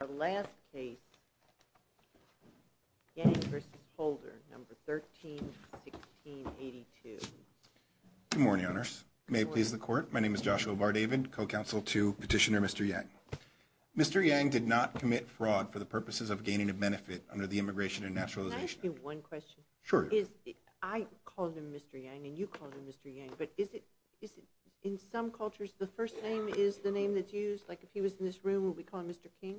Our last case, Yang v. Holder, No. 13-1682. Good morning, Honors. May it please the Court, my name is Joshua Vardavid, co-counsel to Petitioner Mr. Yang. Mr. Yang did not commit fraud for the purposes of gaining a benefit under the Immigration and Naturalization Act. Can I ask you one question? Sure. I call him Mr. Yang and you call him Mr. Yang, but is it, in some cultures, the first name is the name that's used? Like, if he was in this room, would we call him Mr. King?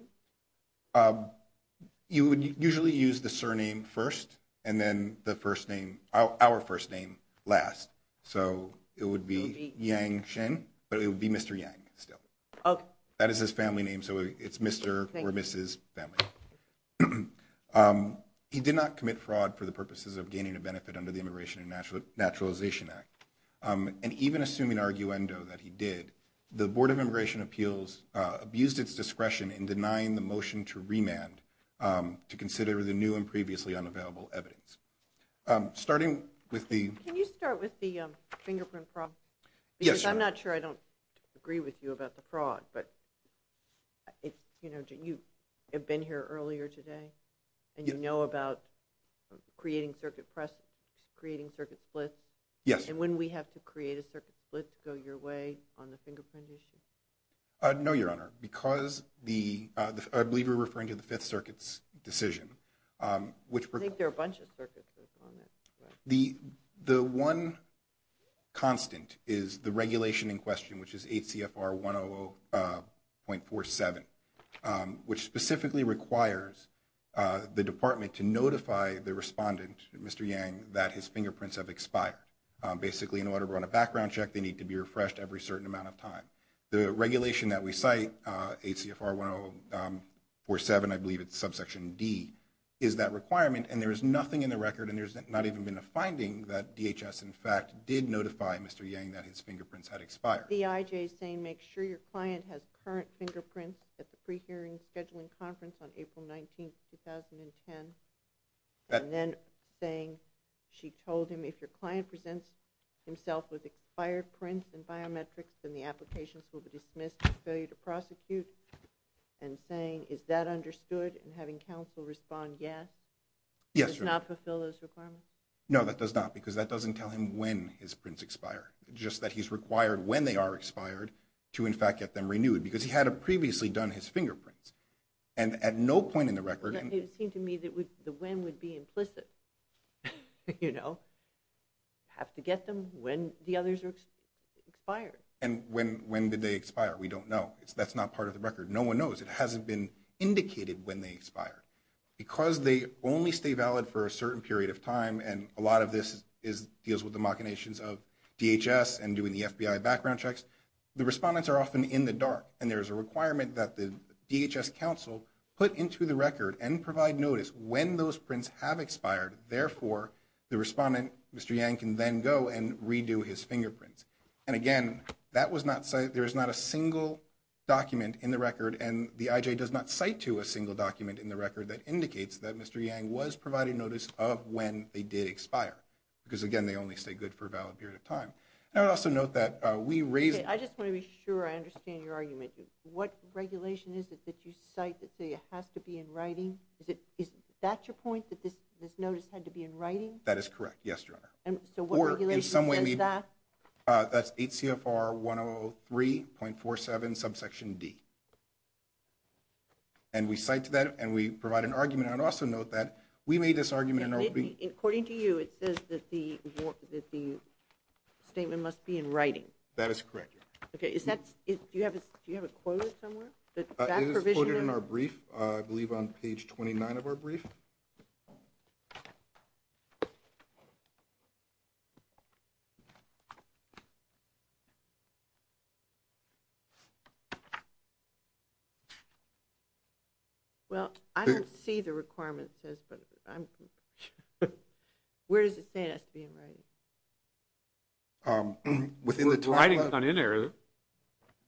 You would usually use the surname first and then the first name, our first name, last. So it would be Yang Shin, but it would be Mr. Yang still. That is his family name, so it's Mr. or Mrs. family. He did not commit fraud for the purposes of gaining a benefit under the Immigration and Naturalization Act. And even assuming arguendo that he did, the Board of Immigration Appeals abused its discretion in denying the motion to remand to consider the new and previously unavailable evidence. Can you start with the fingerprint problem? Yes. Because I'm not sure I don't agree with you about the fraud, but you have been here earlier today and you know about creating circuit splits. Yes. And wouldn't we have to create a circuit split to go your way on the fingerprint issue? No, Your Honor, because I believe you're referring to the Fifth Circuit's decision. I think there are a bunch of circuits that are on it. The one constant is the regulation in question, which is HCFR 100.47, which specifically requires the department to notify the respondent, Mr. Yang, that his fingerprints have expired. Basically, in order to run a background check, they need to be refreshed every certain amount of time. The regulation that we cite, HCFR 100.47, I believe it's subsection D, is that requirement, and there is nothing in the record and there's not even been a finding that DHS, in fact, did notify Mr. Yang that his fingerprints had expired. The IJ is saying make sure your client has current fingerprints at the pre-hearing scheduling conference on April 19, 2010. And then saying she told him if your client presents himself with expired prints and biometrics, then the applications will be dismissed for failure to prosecute. And saying, is that understood? And having counsel respond yes? Yes, Your Honor. Does it not fulfill those requirements? No, that does not, because that doesn't tell him when his prints expire. Just that he's required when they are expired to, in fact, get them renewed, because he had previously done his fingerprints. And at no point in the record— It would seem to me that the when would be implicit. You know, have to get them when the others are expired. And when did they expire? We don't know. That's not part of the record. No one knows. It hasn't been indicated when they expired. Because they only stay valid for a certain period of time, and a lot of this deals with the machinations of DHS and doing the FBI background checks, the respondents are often in the dark. And there's a requirement that the DHS counsel put into the record and provide notice when those prints have expired. Therefore, the respondent, Mr. Yang, can then go and redo his fingerprints. And again, there is not a single document in the record, and the IJ does not cite to a single document in the record that indicates that Mr. Yang was providing notice of when they did expire. Because again, they only stay good for a valid period of time. And I would also note that we raise— I just want to be sure I understand your argument. What regulation is it that you cite that says it has to be in writing? Is that your point, that this notice had to be in writing? That is correct, yes, Your Honor. So what regulation says that? That's 8 CFR 103.47, subsection D. And we cite to that, and we provide an argument. I would also note that we made this argument— According to you, it says that the statement must be in writing. That is correct, Your Honor. Okay, is that—do you have it quoted somewhere? It is quoted in our brief, I believe on page 29 of our brief. Well, I don't see the requirement says, but I'm— Where does it say it has to be in writing? Within the time— Writing is not in there, is it?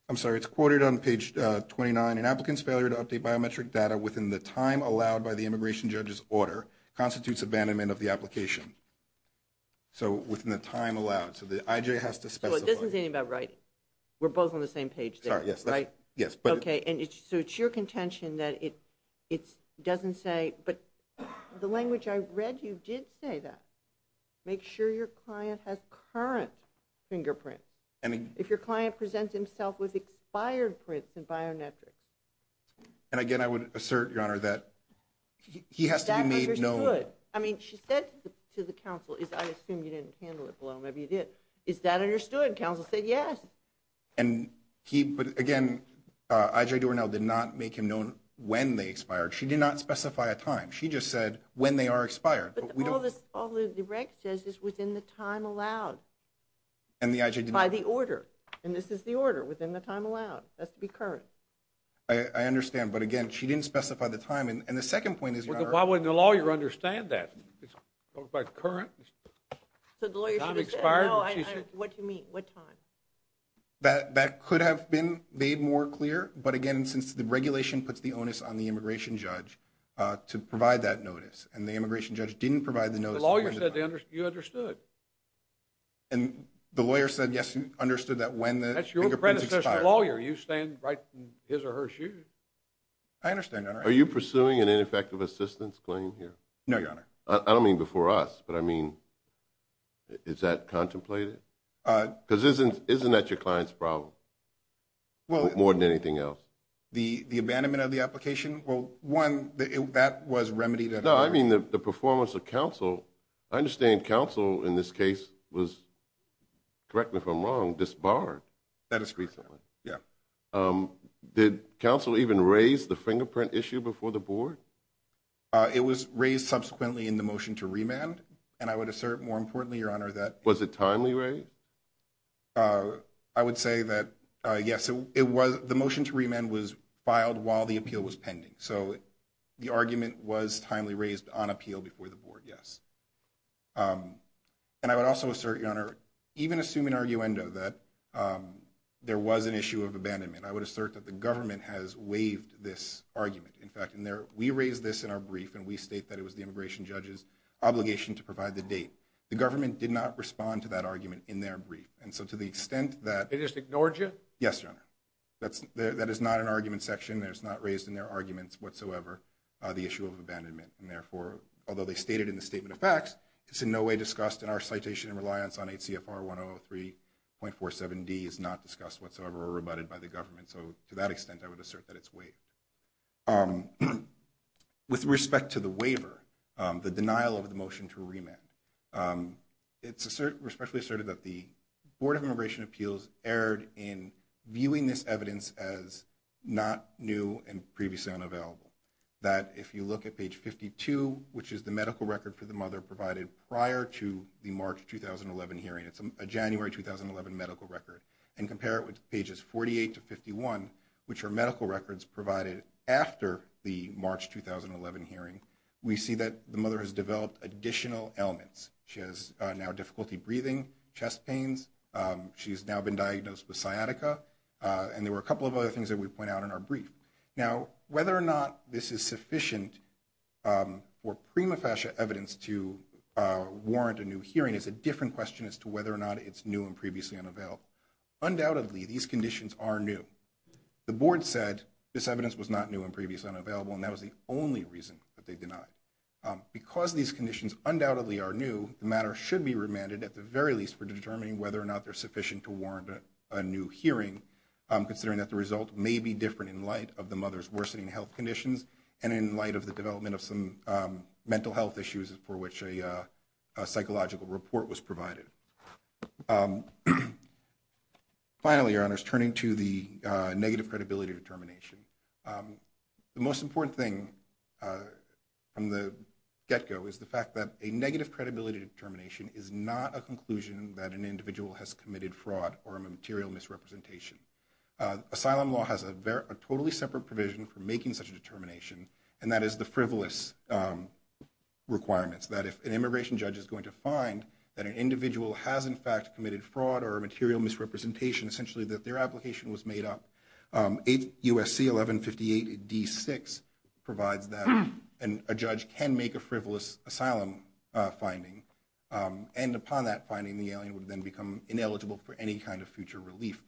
I'm sorry, it's quoted on page 29. An applicant's failure to update biometric data within the time allowed by the immigration judge's order constitutes abandonment of the application. So within the time allowed. So the IJ has to specify— So it doesn't say anything about writing. We're both on the same page there, right? Yes, but— Okay, so it's your contention that it doesn't say— But the language I read, you did say that. Make sure your client has current fingerprints. I mean— If your client presents himself with expired prints in biometrics. And again, I would assert, Your Honor, that he has to be made known— That was understood. I mean, she said to the counsel, I assume you didn't handle it well, maybe you did. Is that understood? Counsel said yes. And he—but again, IJ Doernell did not make him known when they expired. She did not specify a time. She just said when they are expired. But all the rec says is within the time allowed. And the IJ did not— By the order. And this is the order, within the time allowed. It has to be current. I understand. But again, she didn't specify the time. And the second point is, Your Honor— Why wouldn't the lawyer understand that? It's specified current. So the lawyer should have said, no, what do you mean, what time? That could have been made more clear. But again, since the regulation puts the onus on the immigration judge to provide that notice, and the immigration judge didn't provide the notice— The lawyer said you understood. And the lawyer said yes, understood that when the fingerprints expired. That's your predecessor's lawyer. You stand right in his or her shoes. I understand, Your Honor. Are you pursuing an ineffective assistance claim here? No, Your Honor. I don't mean before us, but I mean, is that contemplated? Because isn't that your client's problem more than anything else? The abandonment of the application? Well, one, that was remedied— No, I mean the performance of counsel. I understand counsel in this case was, correct me if I'm wrong, disbarred. That is correct, Your Honor. Yeah. Did counsel even raise the fingerprint issue before the board? It was raised subsequently in the motion to remand. And I would assert, more importantly, Your Honor, that— Was it timely raised? I would say that, yes. The motion to remand was filed while the appeal was pending. So the argument was timely raised on appeal before the board, yes. And I would also assert, Your Honor, even assuming arguendo that there was an issue of abandonment, I would assert that the government has waived this argument. In fact, we raised this in our brief, and we state that it was the immigration judge's obligation to provide the date. The government did not respond to that argument in their brief. And so to the extent that— They just ignored you? Yes, Your Honor. That is not an argument section, and it's not raised in their arguments whatsoever, the issue of abandonment. And therefore, although they stated in the statement of facts, it's in no way discussed in our citation and reliance on 8 CFR 1003.47d. It's not discussed whatsoever or rebutted by the government. So to that extent, I would assert that it's waived. With respect to the waiver, the denial of the motion to remand, it's respectfully asserted that the Board of Immigration Appeals erred in viewing this evidence as not new and previously unavailable, that if you look at page 52, which is the medical record for the mother provided prior to the March 2011 hearing, it's a January 2011 medical record, and compare it with pages 48 to 51, which are medical records provided after the March 2011 hearing, we see that the mother has developed additional ailments. She has now difficulty breathing, chest pains. She has now been diagnosed with sciatica. And there were a couple of other things that we point out in our brief. Now, whether or not this is sufficient for prima facie evidence to warrant a new hearing is a different question as to whether or not it's new and previously unavailable. Undoubtedly, these conditions are new. The Board said this evidence was not new and previously unavailable, and that was the only reason that they denied it. Because these conditions undoubtedly are new, the matter should be remanded at the very least for determining whether or not they're sufficient to warrant a new hearing, considering that the result may be different in light of the mother's worsening health conditions and in light of the development of some mental health issues for which a psychological report was provided. Finally, Your Honors, turning to the negative credibility determination, the most important thing from the get-go is the fact that a negative credibility determination is not a conclusion that an individual has committed fraud or a material misrepresentation. Asylum law has a totally separate provision for making such a determination, and that is the frivolous requirements, that if an immigration judge is going to find that an individual has in fact committed fraud or a material misrepresentation, essentially that their application was made up. USC 1158D6 provides that, and a judge can make a frivolous asylum finding. And upon that finding, the alien would then become ineligible for any kind of future relief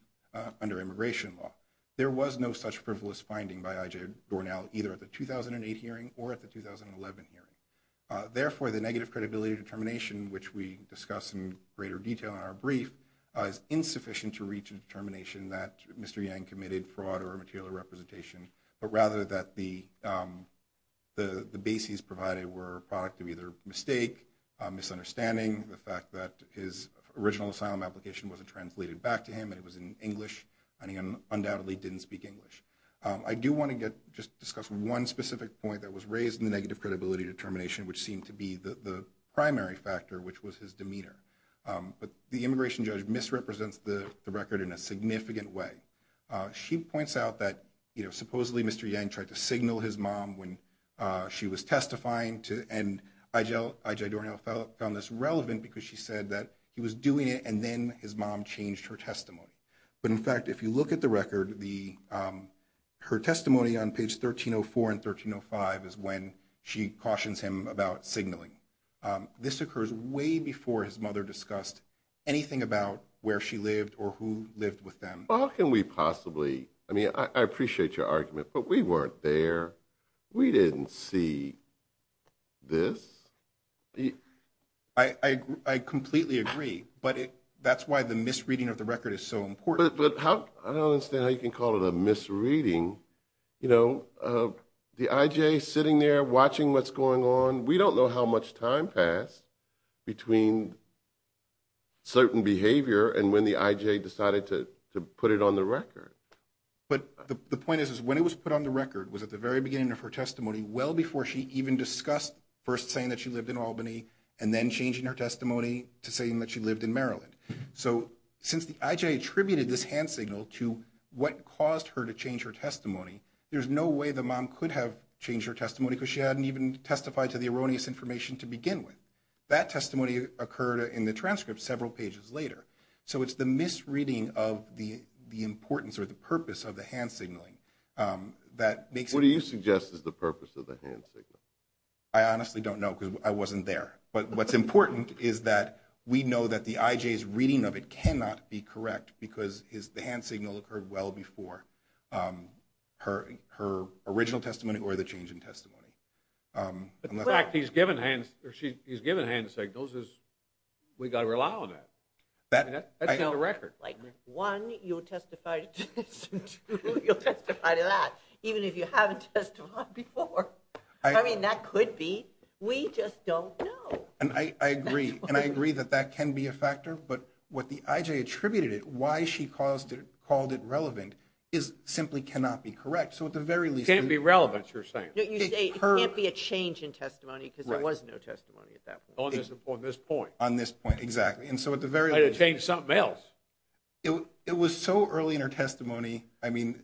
under immigration law. There was no such frivolous finding by I.J. Dornell, either at the 2008 hearing or at the 2011 hearing. Therefore, the negative credibility determination, which we discuss in greater detail in our brief, is insufficient to reach a determination that Mr. Yang committed fraud or a material representation, but rather that the bases provided were a product of either mistake, misunderstanding, the fact that his original asylum application wasn't translated back to him and it was in English, and he undoubtedly didn't speak English. I do want to just discuss one specific point that was raised in the negative credibility determination, which seemed to be the primary factor, which was his demeanor. But the immigration judge misrepresents the record in a significant way. She points out that, you know, supposedly Mr. Yang tried to signal his mom when she was testifying, and I.J. Dornell found this relevant because she said that he was doing it and then his mom changed her testimony. But, in fact, if you look at the record, her testimony on page 1304 and 1305 is when she cautions him about signaling. This occurs way before his mother discussed anything about where she lived or who lived with them. How can we possibly, I mean, I appreciate your argument, but we weren't there. We didn't see this. I completely agree, but that's why the misreading of the record is so important. I don't understand how you can call it a misreading. You know, the I.J. sitting there watching what's going on, we don't know how much time passed between certain behavior and when the I.J. decided to put it on the record. But the point is when it was put on the record was at the very beginning of her testimony, well before she even discussed first saying that she lived in Albany and then changing her testimony to saying that she lived in Maryland. So since the I.J. attributed this hand signal to what caused her to change her testimony, there's no way the mom could have changed her testimony because she hadn't even testified to the erroneous information to begin with. That testimony occurred in the transcript several pages later. So it's the misreading of the importance or the purpose of the hand signaling that makes it. What do you suggest is the purpose of the hand signal? I honestly don't know because I wasn't there. But what's important is that we know that the I.J.'s reading of it cannot be correct because the hand signal occurred well before her original testimony or the change in testimony. In fact, he's given hands or she's given hands to say those is, we got to rely on that. That's not a record. One, you'll testify to this and two, you'll testify to that, even if you haven't testified before. I mean, that could be. We just don't know. And I agree. And I agree that that can be a factor. But what the I.J. attributed it, why she caused it, called it relevant, is simply cannot be correct. So at the very least. Can't be relevant, you're saying. You say it can't be a change in testimony because there was no testimony at that point. On this point. On this point, exactly. And so at the very least. Might have changed something else. It was so early in her testimony. I mean,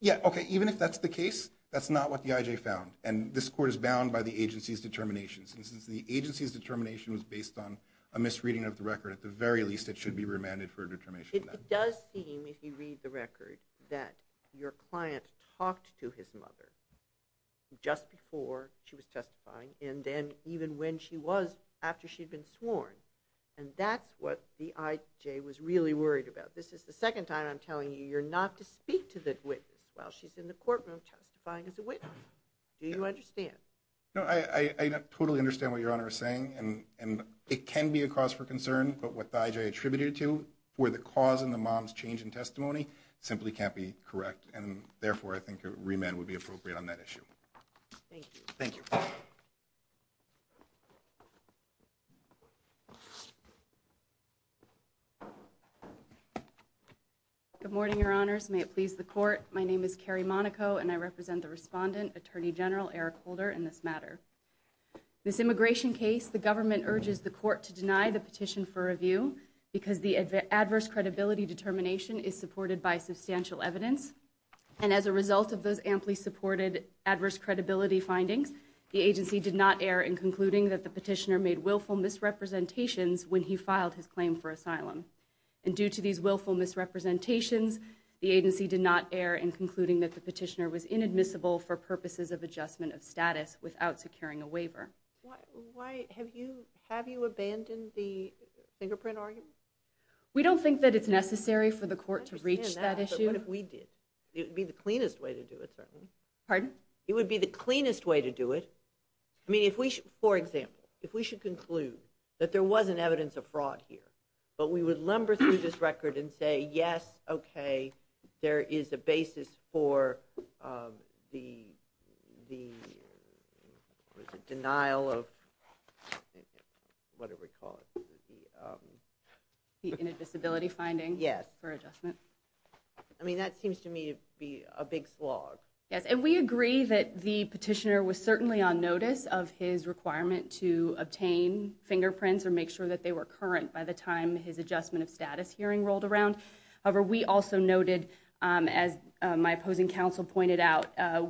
yeah, okay, even if that's the case, that's not what the I.J. found. And this court is bound by the agency's determinations. And since the agency's determination was based on a misreading of the record, at the very least it should be remanded for a determination. It does seem, if you read the record, that your client talked to his mother just before she was testifying and then even when she was, after she'd been sworn. And that's what the I.J. was really worried about. This is the second time I'm telling you you're not to speak to the witness while she's in the courtroom testifying as a witness. Do you understand? No, I totally understand what Your Honor is saying. And it can be a cause for concern. But what the I.J. attributed it to for the cause in the mom's change in testimony simply can't be correct. And therefore, I think a remand would be appropriate on that issue. Thank you. Thank you. Good morning, Your Honors. May it please the court. My name is Carrie Monaco, and I represent the respondent, Attorney General Eric Holder, in this matter. This immigration case, the government urges the court to deny the petition for review because the adverse credibility determination is supported by substantial evidence. And as a result of those amply supported adverse credibility findings, the agency did not err in concluding that the petitioner made willful misrepresentations when he filed his claim for asylum. And due to these willful misrepresentations, the agency did not err in concluding that the petitioner was inadmissible for purposes of adjustment of status without securing a waiver. Have you abandoned the fingerprint argument? We don't think that it's necessary for the court to reach that issue. I understand that, but what if we did? It would be the cleanest way to do it, certainly. Pardon? It would be the cleanest way to do it. I mean, for example, if we should conclude that there wasn't evidence of fraud here, but we would lumber through this record and say, yes, okay, there is a basis for the denial of whatever you call it. The inadmissibility finding? Yes. For adjustment? I mean, that seems to me to be a big slog. Yes, and we agree that the petitioner was certainly on notice of his requirement to obtain fingerprints or make sure that they were current by the time his adjustment of status hearing rolled around. However, we also noted, as my opposing counsel pointed out,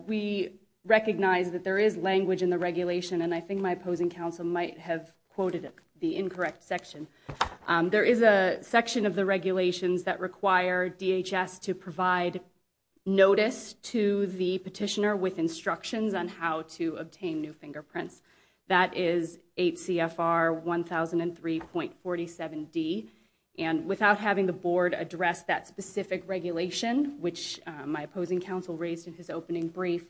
we recognize that there is language in the regulation, and I think my opposing counsel might have quoted the incorrect section. There is a section of the regulations that require DHS to provide notice to the petitioner with instructions on how to obtain new fingerprints. That is 8 CFR 1003.47D. And without having the board address that specific regulation, which my opposing counsel raised in his opening brief,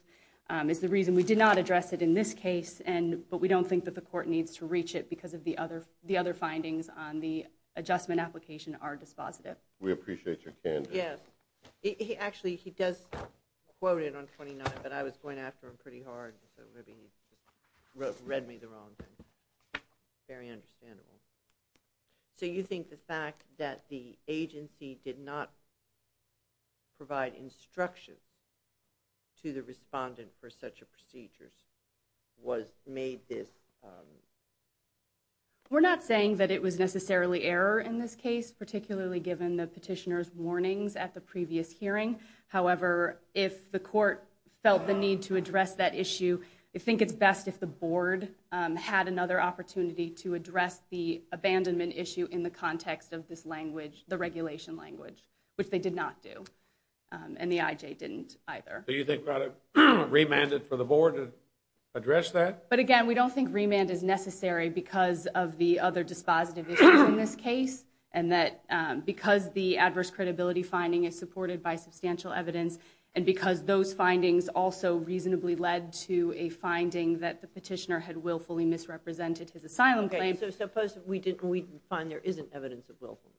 is the reason we did not address it in this case, but we don't think that the court needs to reach it because of the other findings on the adjustment application are dispositive. We appreciate your candor. Yes. Actually, he does quote it on 29, but I was going after him pretty hard. Read me the wrong thing. Very understandable. So you think the fact that the agency did not provide instruction to the respondent for such a procedure was made this? We're not saying that it was necessarily error in this case, particularly given the petitioner's warnings at the previous hearing. However, if the court felt the need to address that issue, I think it's best if the board had another opportunity to address the abandonment issue in the context of this language, the regulation language, which they did not do. And the IJ didn't either. Do you think remanded for the board to address that? But again, we don't think remand is necessary because of the other dispositive issues in this case. And that because the adverse credibility finding is supported by substantial evidence. And because those findings also reasonably led to a finding that the petitioner had willfully misrepresented his asylum claim. So suppose we didn't, we find there isn't evidence of willful.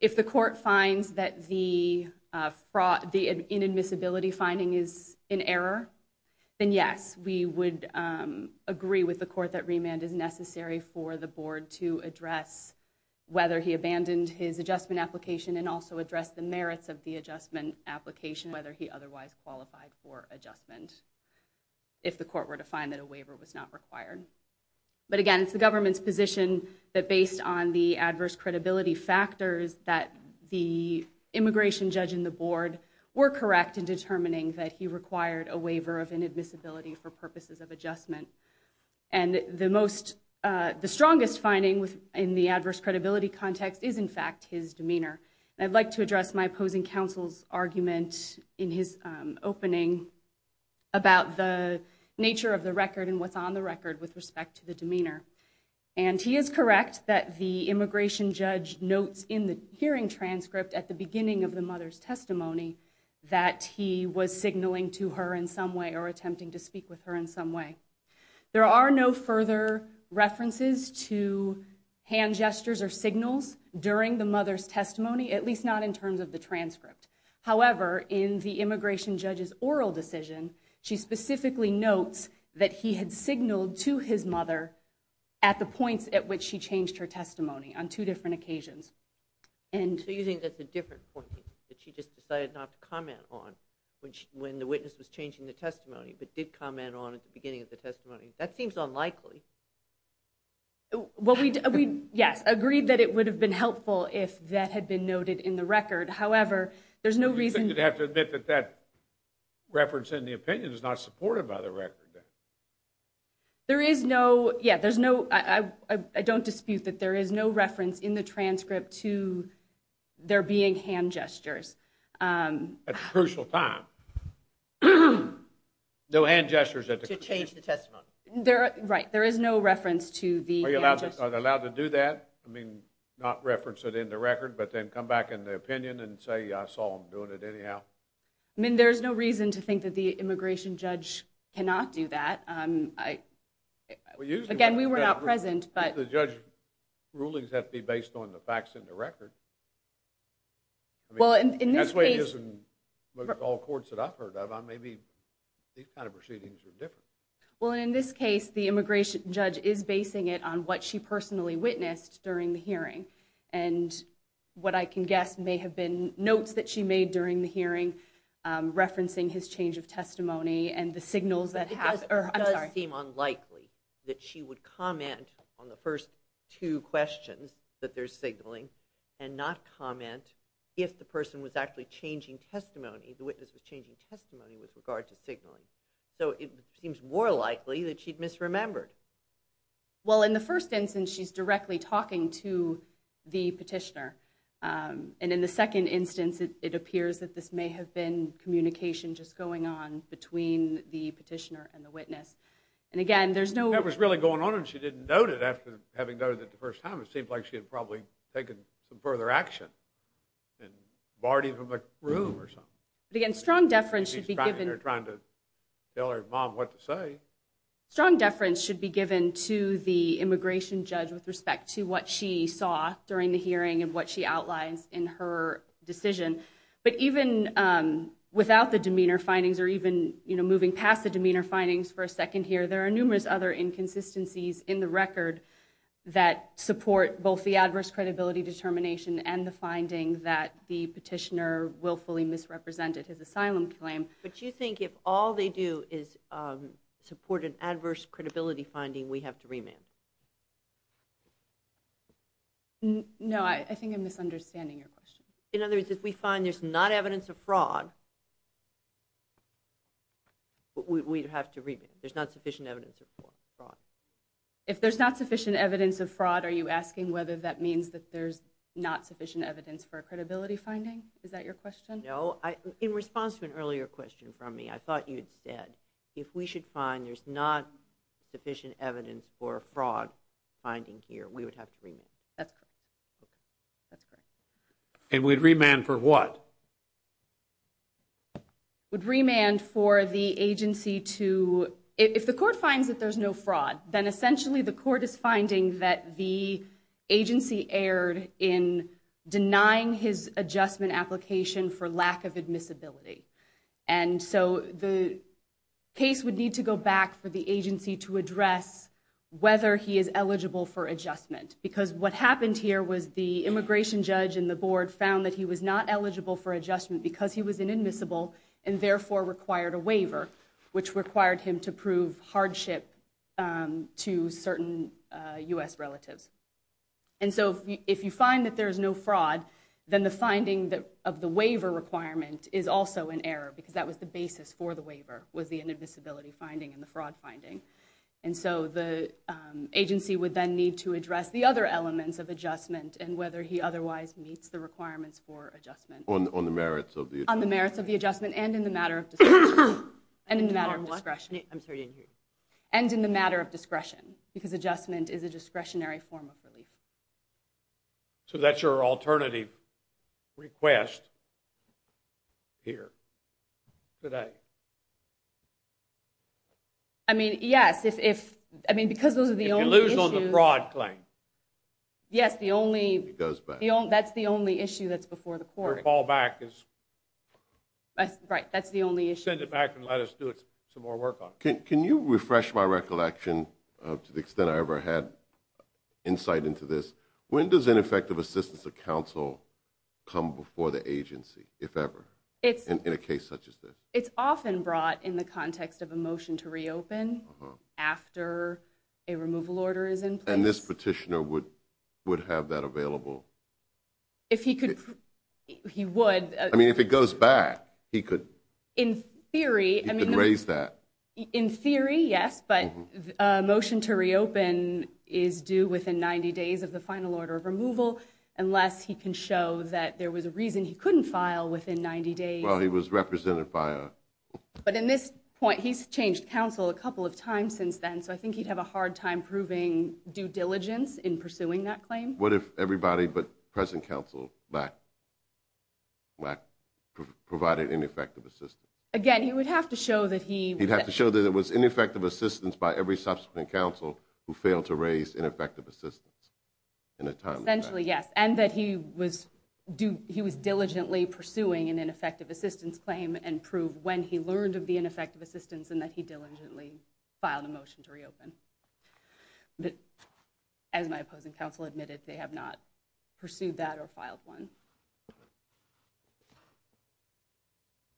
If the court finds that the fraud, the inadmissibility finding is in error, then yes, we would agree with the court that remand is necessary for the board to address whether he abandoned his adjustment application and also address the merits of the adjustment application, whether he otherwise qualified for adjustment if the court were to find that a waiver was not required. But again, it's the government's position that based on the adverse credibility factors that the immigration judge in the board were correct in determining that he required a waiver of inadmissibility for purposes of adjustment. And the strongest finding in the adverse credibility context is in fact his demeanor. And I'd like to address my opposing counsel's argument in his opening about the nature of the record and what's on the record with respect to the demeanor. And he is correct that the immigration judge notes in the hearing transcript at the beginning of the mother's testimony that he was signaling to her in some way. There are no further references to hand gestures or signals during the mother's testimony, at least not in terms of the transcript. However, in the immigration judge's oral decision, she specifically notes that he had signaled to his mother at the points at which she changed her testimony on two different occasions. So you think that's a different point that she just decided not to comment on when she, when the witness was changing the testimony, but did comment on at the beginning of the testimony? That seems unlikely. Well, yes, agreed that it would have been helpful if that had been noted in the record. However, there's no reason to have to admit that that reference in the opinion is not supported by the record. There is no, yeah, there's no, I don't dispute that there is no reference in the transcript to there being hand gestures. At a crucial time. No hand gestures. To change the testimony. Right. There is no reference to the hand gestures. Are you allowed to do that? I mean, not reference it in the record, but then come back in the opinion and say, I saw him doing it anyhow. I mean, there's no reason to think that the immigration judge cannot do that. Again, we were not present, but the judge rulings have to be based on the facts in the record. Well, in this case, most all courts that I've heard of, maybe these kind of proceedings are different. Well, in this case, the immigration judge is basing it on what she personally witnessed during the hearing. And what I can guess may have been notes that she made during the hearing, referencing his change of testimony and the signals that have, or I'm sorry. It does seem unlikely that she would comment on the first two questions that there's signaling and not comment. If the person was actually changing testimony, the witness was changing testimony with regard to signaling. So it seems more likely that she'd misremembered. Well, in the first instance, she's directly talking to the petitioner. And in the second instance, it appears that this may have been communication just going on between the petitioner and the witness. And again, there's no, that was really going on and she didn't note it after having noted that the first time it seemed like she had probably taken some further action and barred him from the room or something. But again, strong deference should be given or trying to tell her mom what to say. Strong deference should be given to the immigration judge with respect to what she saw during the hearing and what she outlines in her decision. But even without the demeanor findings or even, you know, moving past the demeanor findings for a second here, there are numerous other inconsistencies in the record that support both the adverse credibility determination and the finding that the petitioner willfully misrepresented his asylum claim. But you think if all they do is support an adverse credibility finding, we have to remand? No, I think I'm misunderstanding your question. In other words, if we find there's not evidence of fraud, we have to remand. There's not sufficient evidence for fraud. If there's not sufficient evidence of fraud, are you asking whether that means that there's not sufficient evidence for credibility finding? Is that your question? No. In response to an earlier question from me, I thought you'd said if we should find there's not sufficient evidence for fraud finding here, we would have to remand. That's correct. That's correct. And we'd remand for what? Would remand for the agency to, if the court finds that there's no fraud, then essentially the court is finding that the agency erred in denying his adjustment application for lack of admissibility. And so the case would need to go back for the agency to address whether he is eligible for adjustment because what happened here was the immigration judge and the board found that he was not eligible for adjustment because he was inadmissible and therefore required a waiver, which required him to prove hardship to certain U.S. relatives. And so if you find that there's no fraud, then the finding of the waiver requirement is also an error because that was the basis for the waiver, was the inadmissibility finding and the fraud finding. And so the agency would then need to address the other elements of adjustment and whether he otherwise meets the requirements for adjustment. On the merits of the adjustment? On the merits of the adjustment and in the matter of discretion. And in the matter of what? And in the matter of discretion. I'm sorry, I didn't hear you. And in the matter of discretion because adjustment is a discretionary form of relief. So that's your alternative request here today? I mean, yes. If, I mean, because those are the only issues. If you lose on the fraud claim. Yes, the only. It goes back. That's the only issue that's before the court. Or fall back is. Right, that's the only issue. Send it back and let us do some more work on it. Can you refresh my recollection to the extent I ever had insight into this? When does ineffective assistance of counsel come before the agency, if ever? In a case such as this? And this petitioner would have that available? If he could, he would. I mean, if it goes back, he could. In theory. He could raise that. In theory, yes, but a motion to reopen is due within 90 days of the final order of removal, unless he can show that there was a reason he couldn't file within 90 days. Well, he was represented by a. But in this point, he's changed counsel a couple of times since then, so I think he'd have a hard time proving due diligence in pursuing that claim. What if everybody but present counsel provided ineffective assistance? Again, he would have to show that he. He'd have to show that it was ineffective assistance by every subsequent counsel who failed to raise ineffective assistance in a timely fashion. Essentially, yes, and that he was diligently pursuing an ineffective assistance claim and prove when he learned of the ineffective assistance and that he diligently filed a motion to reopen. But as my opposing counsel admitted, they have not pursued that or filed one.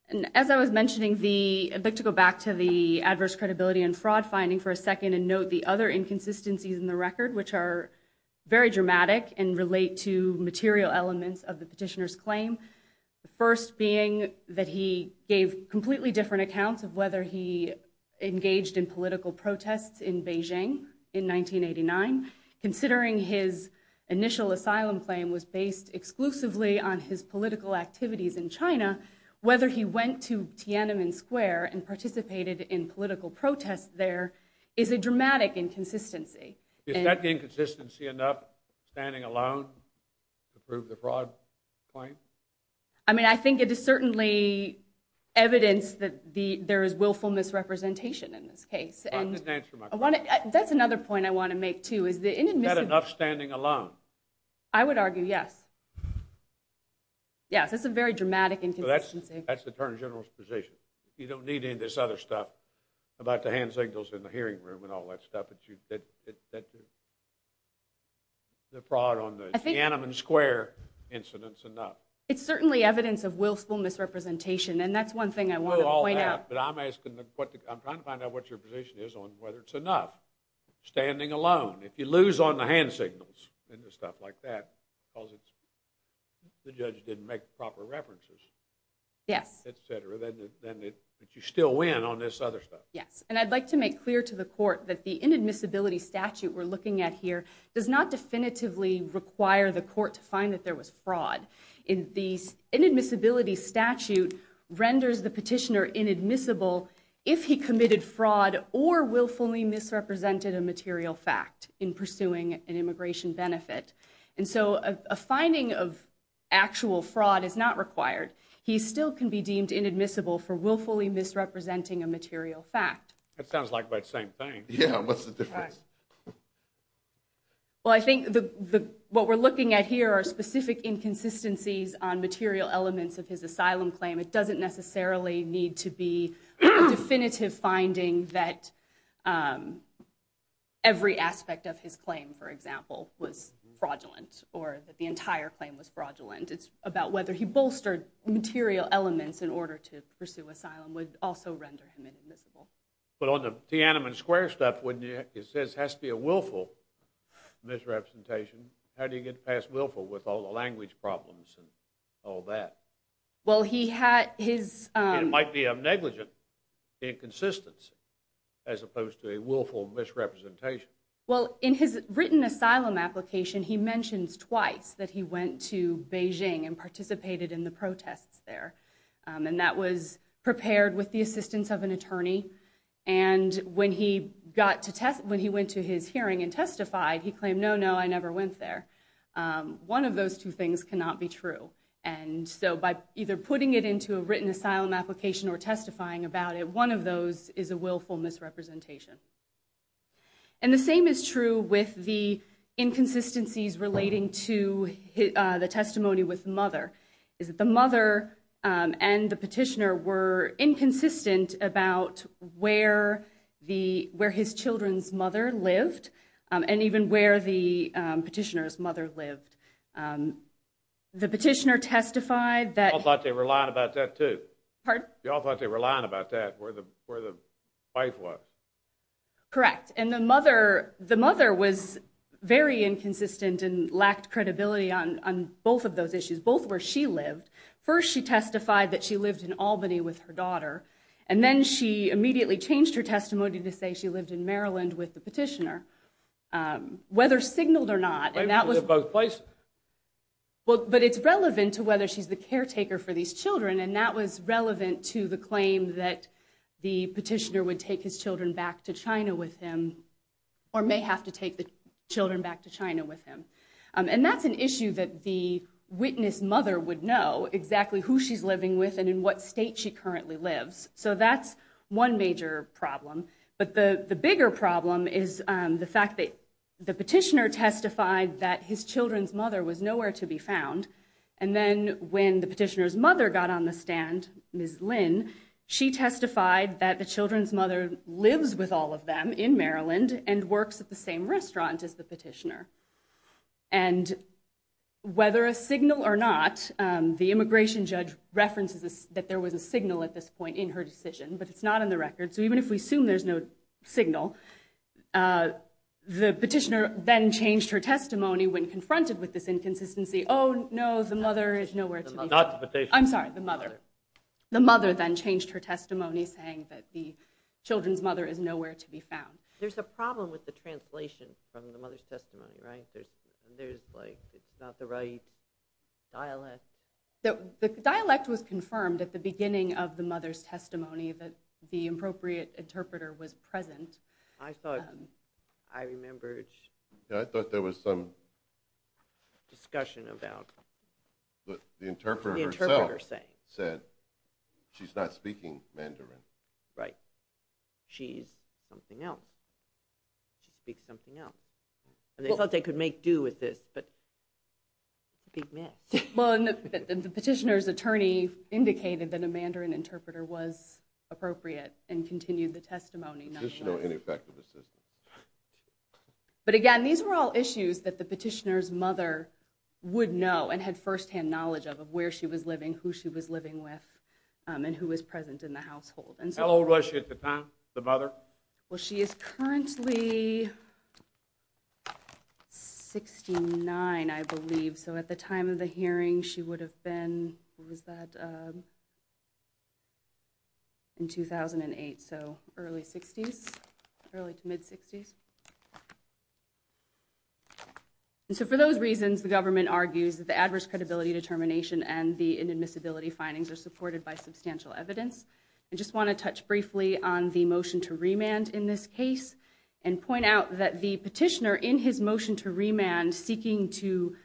And as I was mentioning, I'd like to go back to the adverse credibility and fraud finding for a second and note the other inconsistencies in the record, which are very dramatic The first being that he gave completely different accounts of whether he engaged in political protests in Beijing in 1989. Considering his initial asylum claim was based exclusively on his political activities in China, whether he went to Tiananmen Square and participated in political protests there is a dramatic inconsistency. Is that inconsistency enough standing alone to prove the fraud claim? I mean, I think it is certainly evidence that there is willful misrepresentation in this case. That's another point I want to make too. Is that enough standing alone? I would argue yes. Yes, that's a very dramatic inconsistency. That's the Attorney General's position. You don't need any of this other stuff about the hand signals in the hearing room and all that stuff. The fraud on the Tiananmen Square incident is enough. It's certainly evidence of willful misrepresentation, and that's one thing I want to point out. I'm trying to find out what your position is on whether it's enough standing alone. If you lose on the hand signals and stuff like that because the judge didn't make proper references, etc., then you still win on this other stuff. Yes, and I'd like to make clear to the court that the inadmissibility statute we're looking at here does not definitively require the court to find that there was fraud. The inadmissibility statute renders the petitioner inadmissible if he committed fraud or willfully misrepresented a material fact in pursuing an immigration benefit. And so a finding of actual fraud is not required. He still can be deemed inadmissible for willfully misrepresenting a material fact. That sounds like about the same thing. Yeah, what's the difference? Well, I think what we're looking at here are specific inconsistencies on material elements of his asylum claim. It doesn't necessarily need to be a definitive finding that every aspect of his claim, for example, was fraudulent or that the entire claim was fraudulent. It's about whether he bolstered material elements in order to pursue asylum would also render him inadmissible. But on the Tiananmen Square stuff, when it says it has to be a willful misrepresentation, how do you get past willful with all the language problems and all that? Well, he had his— It might be a negligent inconsistency as opposed to a willful misrepresentation. Well, in his written asylum application, he mentions twice that he went to Beijing and participated in the protests there. And that was prepared with the assistance of an attorney. And when he went to his hearing and testified, he claimed, no, no, I never went there. One of those two things cannot be true. And so by either putting it into a written asylum application or testifying about it, one of those is a willful misrepresentation. And the same is true with the inconsistencies relating to the testimony with the mother, is that the mother and the petitioner were inconsistent about where his children's mother lived and even where the petitioner's mother lived. The petitioner testified that— Y'all thought they were lying about that, too. Pardon? Correct. And the mother was very inconsistent and lacked credibility on both of those issues, both where she lived. First, she testified that she lived in Albany with her daughter, and then she immediately changed her testimony to say she lived in Maryland with the petitioner, whether signaled or not. Wait, was it both places? Well, but it's relevant to whether she's the caretaker for these children, and that was relevant to the claim that the petitioner would take his children back to China with him or may have to take the children back to China with him. And that's an issue that the witness mother would know, exactly who she's living with and in what state she currently lives. So that's one major problem. But the bigger problem is the fact that the petitioner testified that his children's mother was nowhere to be found, and then when the petitioner's mother got on the stand, Ms. Lynn, she testified that the children's mother lives with all of them in Maryland and works at the same restaurant as the petitioner. And whether a signal or not, the immigration judge references that there was a signal at this point in her decision, but it's not in the record, so even if we assume there's no signal, the petitioner then changed her testimony when confronted with this inconsistency. Oh, no, the mother is nowhere to be found. I'm sorry, the mother. The mother then changed her testimony saying that the children's mother is nowhere to be found. There's a problem with the translation from the mother's testimony, right? There's, like, it's not the right dialect. The dialect was confirmed at the beginning of the mother's testimony, that the appropriate interpreter was present. I thought I remembered. I thought there was some discussion about what the interpreter herself said. She's not speaking Mandarin. Right. She's something else. She speaks something else. And they thought they could make do with this, but it's a big mess. The petitioner's attorney indicated that a Mandarin interpreter was appropriate and continued the testimony. Petitioner or ineffective assistant. But, again, these were all issues that the petitioner's mother would know and had firsthand knowledge of of where she was living, who she was living with, and who was present in the household. How old was she at the time, the mother? Well, she is currently 69, I believe, so at the time of the hearing, she would have been in 2008, so early 60s, early to mid-60s. And so for those reasons, the government argues that the adverse credibility determination and the inadmissibility findings are supported by substantial evidence. I just want to touch briefly on the motion to remand in this case and point out that the petitioner, in his motion to remand, seeking to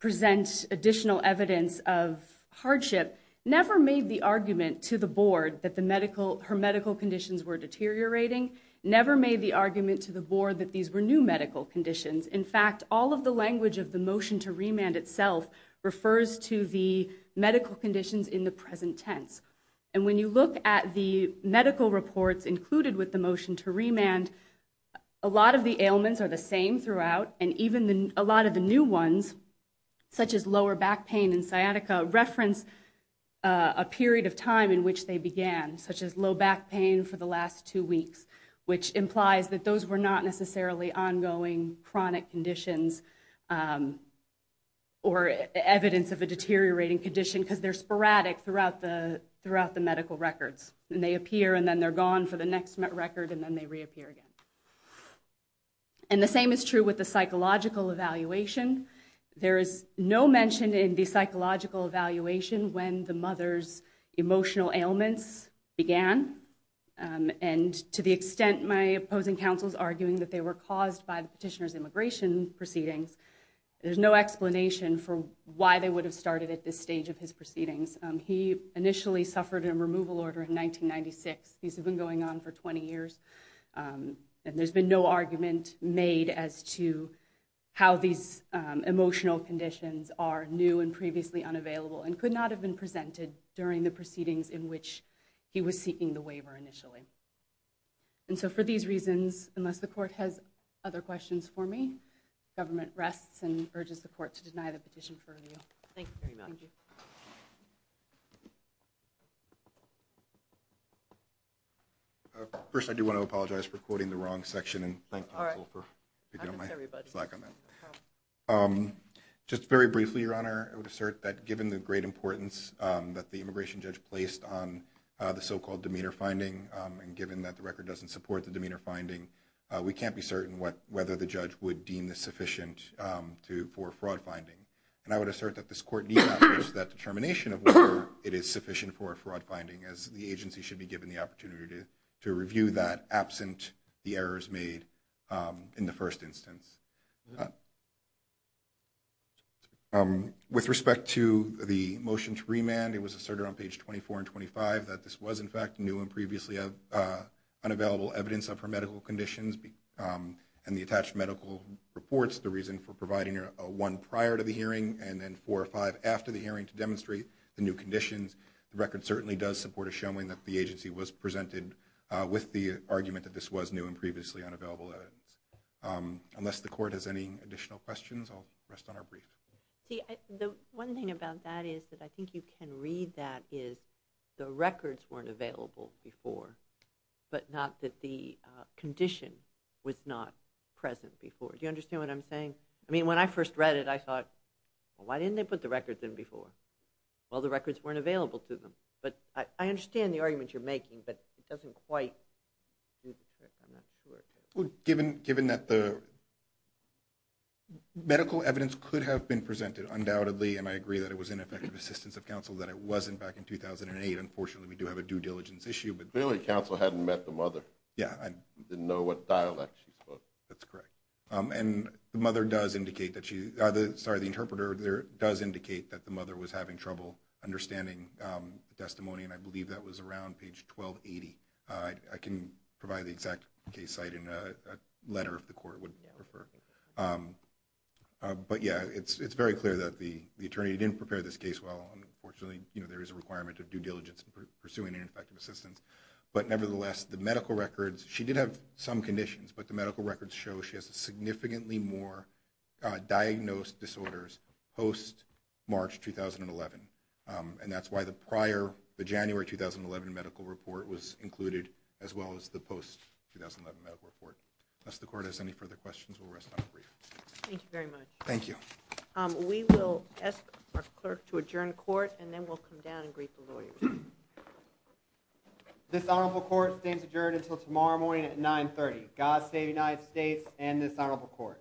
present additional evidence of hardship, never made the argument to the board that her medical conditions were deteriorating, never made the argument to the board that these were new medical conditions. In fact, all of the language of the motion to remand itself refers to the medical conditions in the present tense. And when you look at the medical reports included with the motion to remand, a lot of the ailments are the same throughout, and even a lot of the new ones, such as lower back pain and sciatica, reference a period of time in which they began, such as low back pain for the last two weeks, which implies that those were not necessarily ongoing chronic conditions or evidence of a deteriorating condition, because they're sporadic throughout the medical records. And they appear, and then they're gone for the next record, and then they reappear again. And the same is true with the psychological evaluation. There is no mention in the psychological evaluation when the mother's emotional ailments began, and to the extent my opposing counsel is arguing that they were caused by the petitioner's immigration proceedings, there's no explanation for why they would have started at this stage of his proceedings. He initially suffered a removal order in 1996. These have been going on for 20 years, and there's been no argument made as to how these emotional conditions are new and previously unavailable, and could not have been presented during the proceedings in which he was seeking the waiver initially. And so for these reasons, unless the court has other questions for me, government rests and urges the court to deny the petition for review. Thank you very much. First, I do want to apologize for quoting the wrong section. Just very briefly, Your Honor, I would assert that given the great importance that the immigration judge placed on the so-called demeanor finding, and given that the record doesn't support the demeanor finding, we can't be certain whether the judge would deem this sufficient for fraud finding. And I would assert that this court need not push that determination of whether it is sufficient for a fraud finding, as the agency should be given the opportunity to review that absent the errors made in the first instance. With respect to the motion to remand, it was asserted on page 24 and 25 that this was, in fact, new and previously unavailable evidence of her medical conditions, and the attached medical reports, the reason for providing one prior to the hearing and then four or five after the hearing to demonstrate the new conditions. The record certainly does support a showing that the agency was presented with the argument that this was new and previously unavailable evidence. Unless the court has any additional questions, I'll rest on our brief. See, the one thing about that is that I think you can read that is the records weren't available before, but not that the condition was not present before. Do you understand what I'm saying? I mean, when I first read it, I thought, well, why didn't they put the records in before? Well, the records weren't available to them. But I understand the argument you're making, but it doesn't quite do the trick, I'm not sure. Given that the medical evidence could have been presented, undoubtedly, and I agree that it was ineffective assistance of counsel, that it wasn't back in 2008. Unfortunately, we do have a due diligence issue. Clearly, counsel hadn't met the mother. Didn't know what dialect she spoke. That's correct. And the mother does indicate that she – sorry, the interpreter does indicate that the mother was having trouble understanding the testimony, and I believe that was around page 1280. I can provide the exact case site in a letter if the court would prefer. But, yeah, it's very clear that the attorney didn't prepare this case well. Unfortunately, there is a requirement of due diligence in pursuing ineffective assistance. But, nevertheless, the medical records – she did have some conditions, but the medical records show she has significantly more diagnosed disorders post-March 2011. And that's why the prior, the January 2011 medical report was included, as well as the post-2011 medical report. Unless the court has any further questions, we'll rest on the brief. Thank you very much. Thank you. We will ask our clerk to adjourn court, and then we'll come down and greet the lawyers. This honorable court stands adjourned until tomorrow morning at 9.30. God save the United States and this honorable court.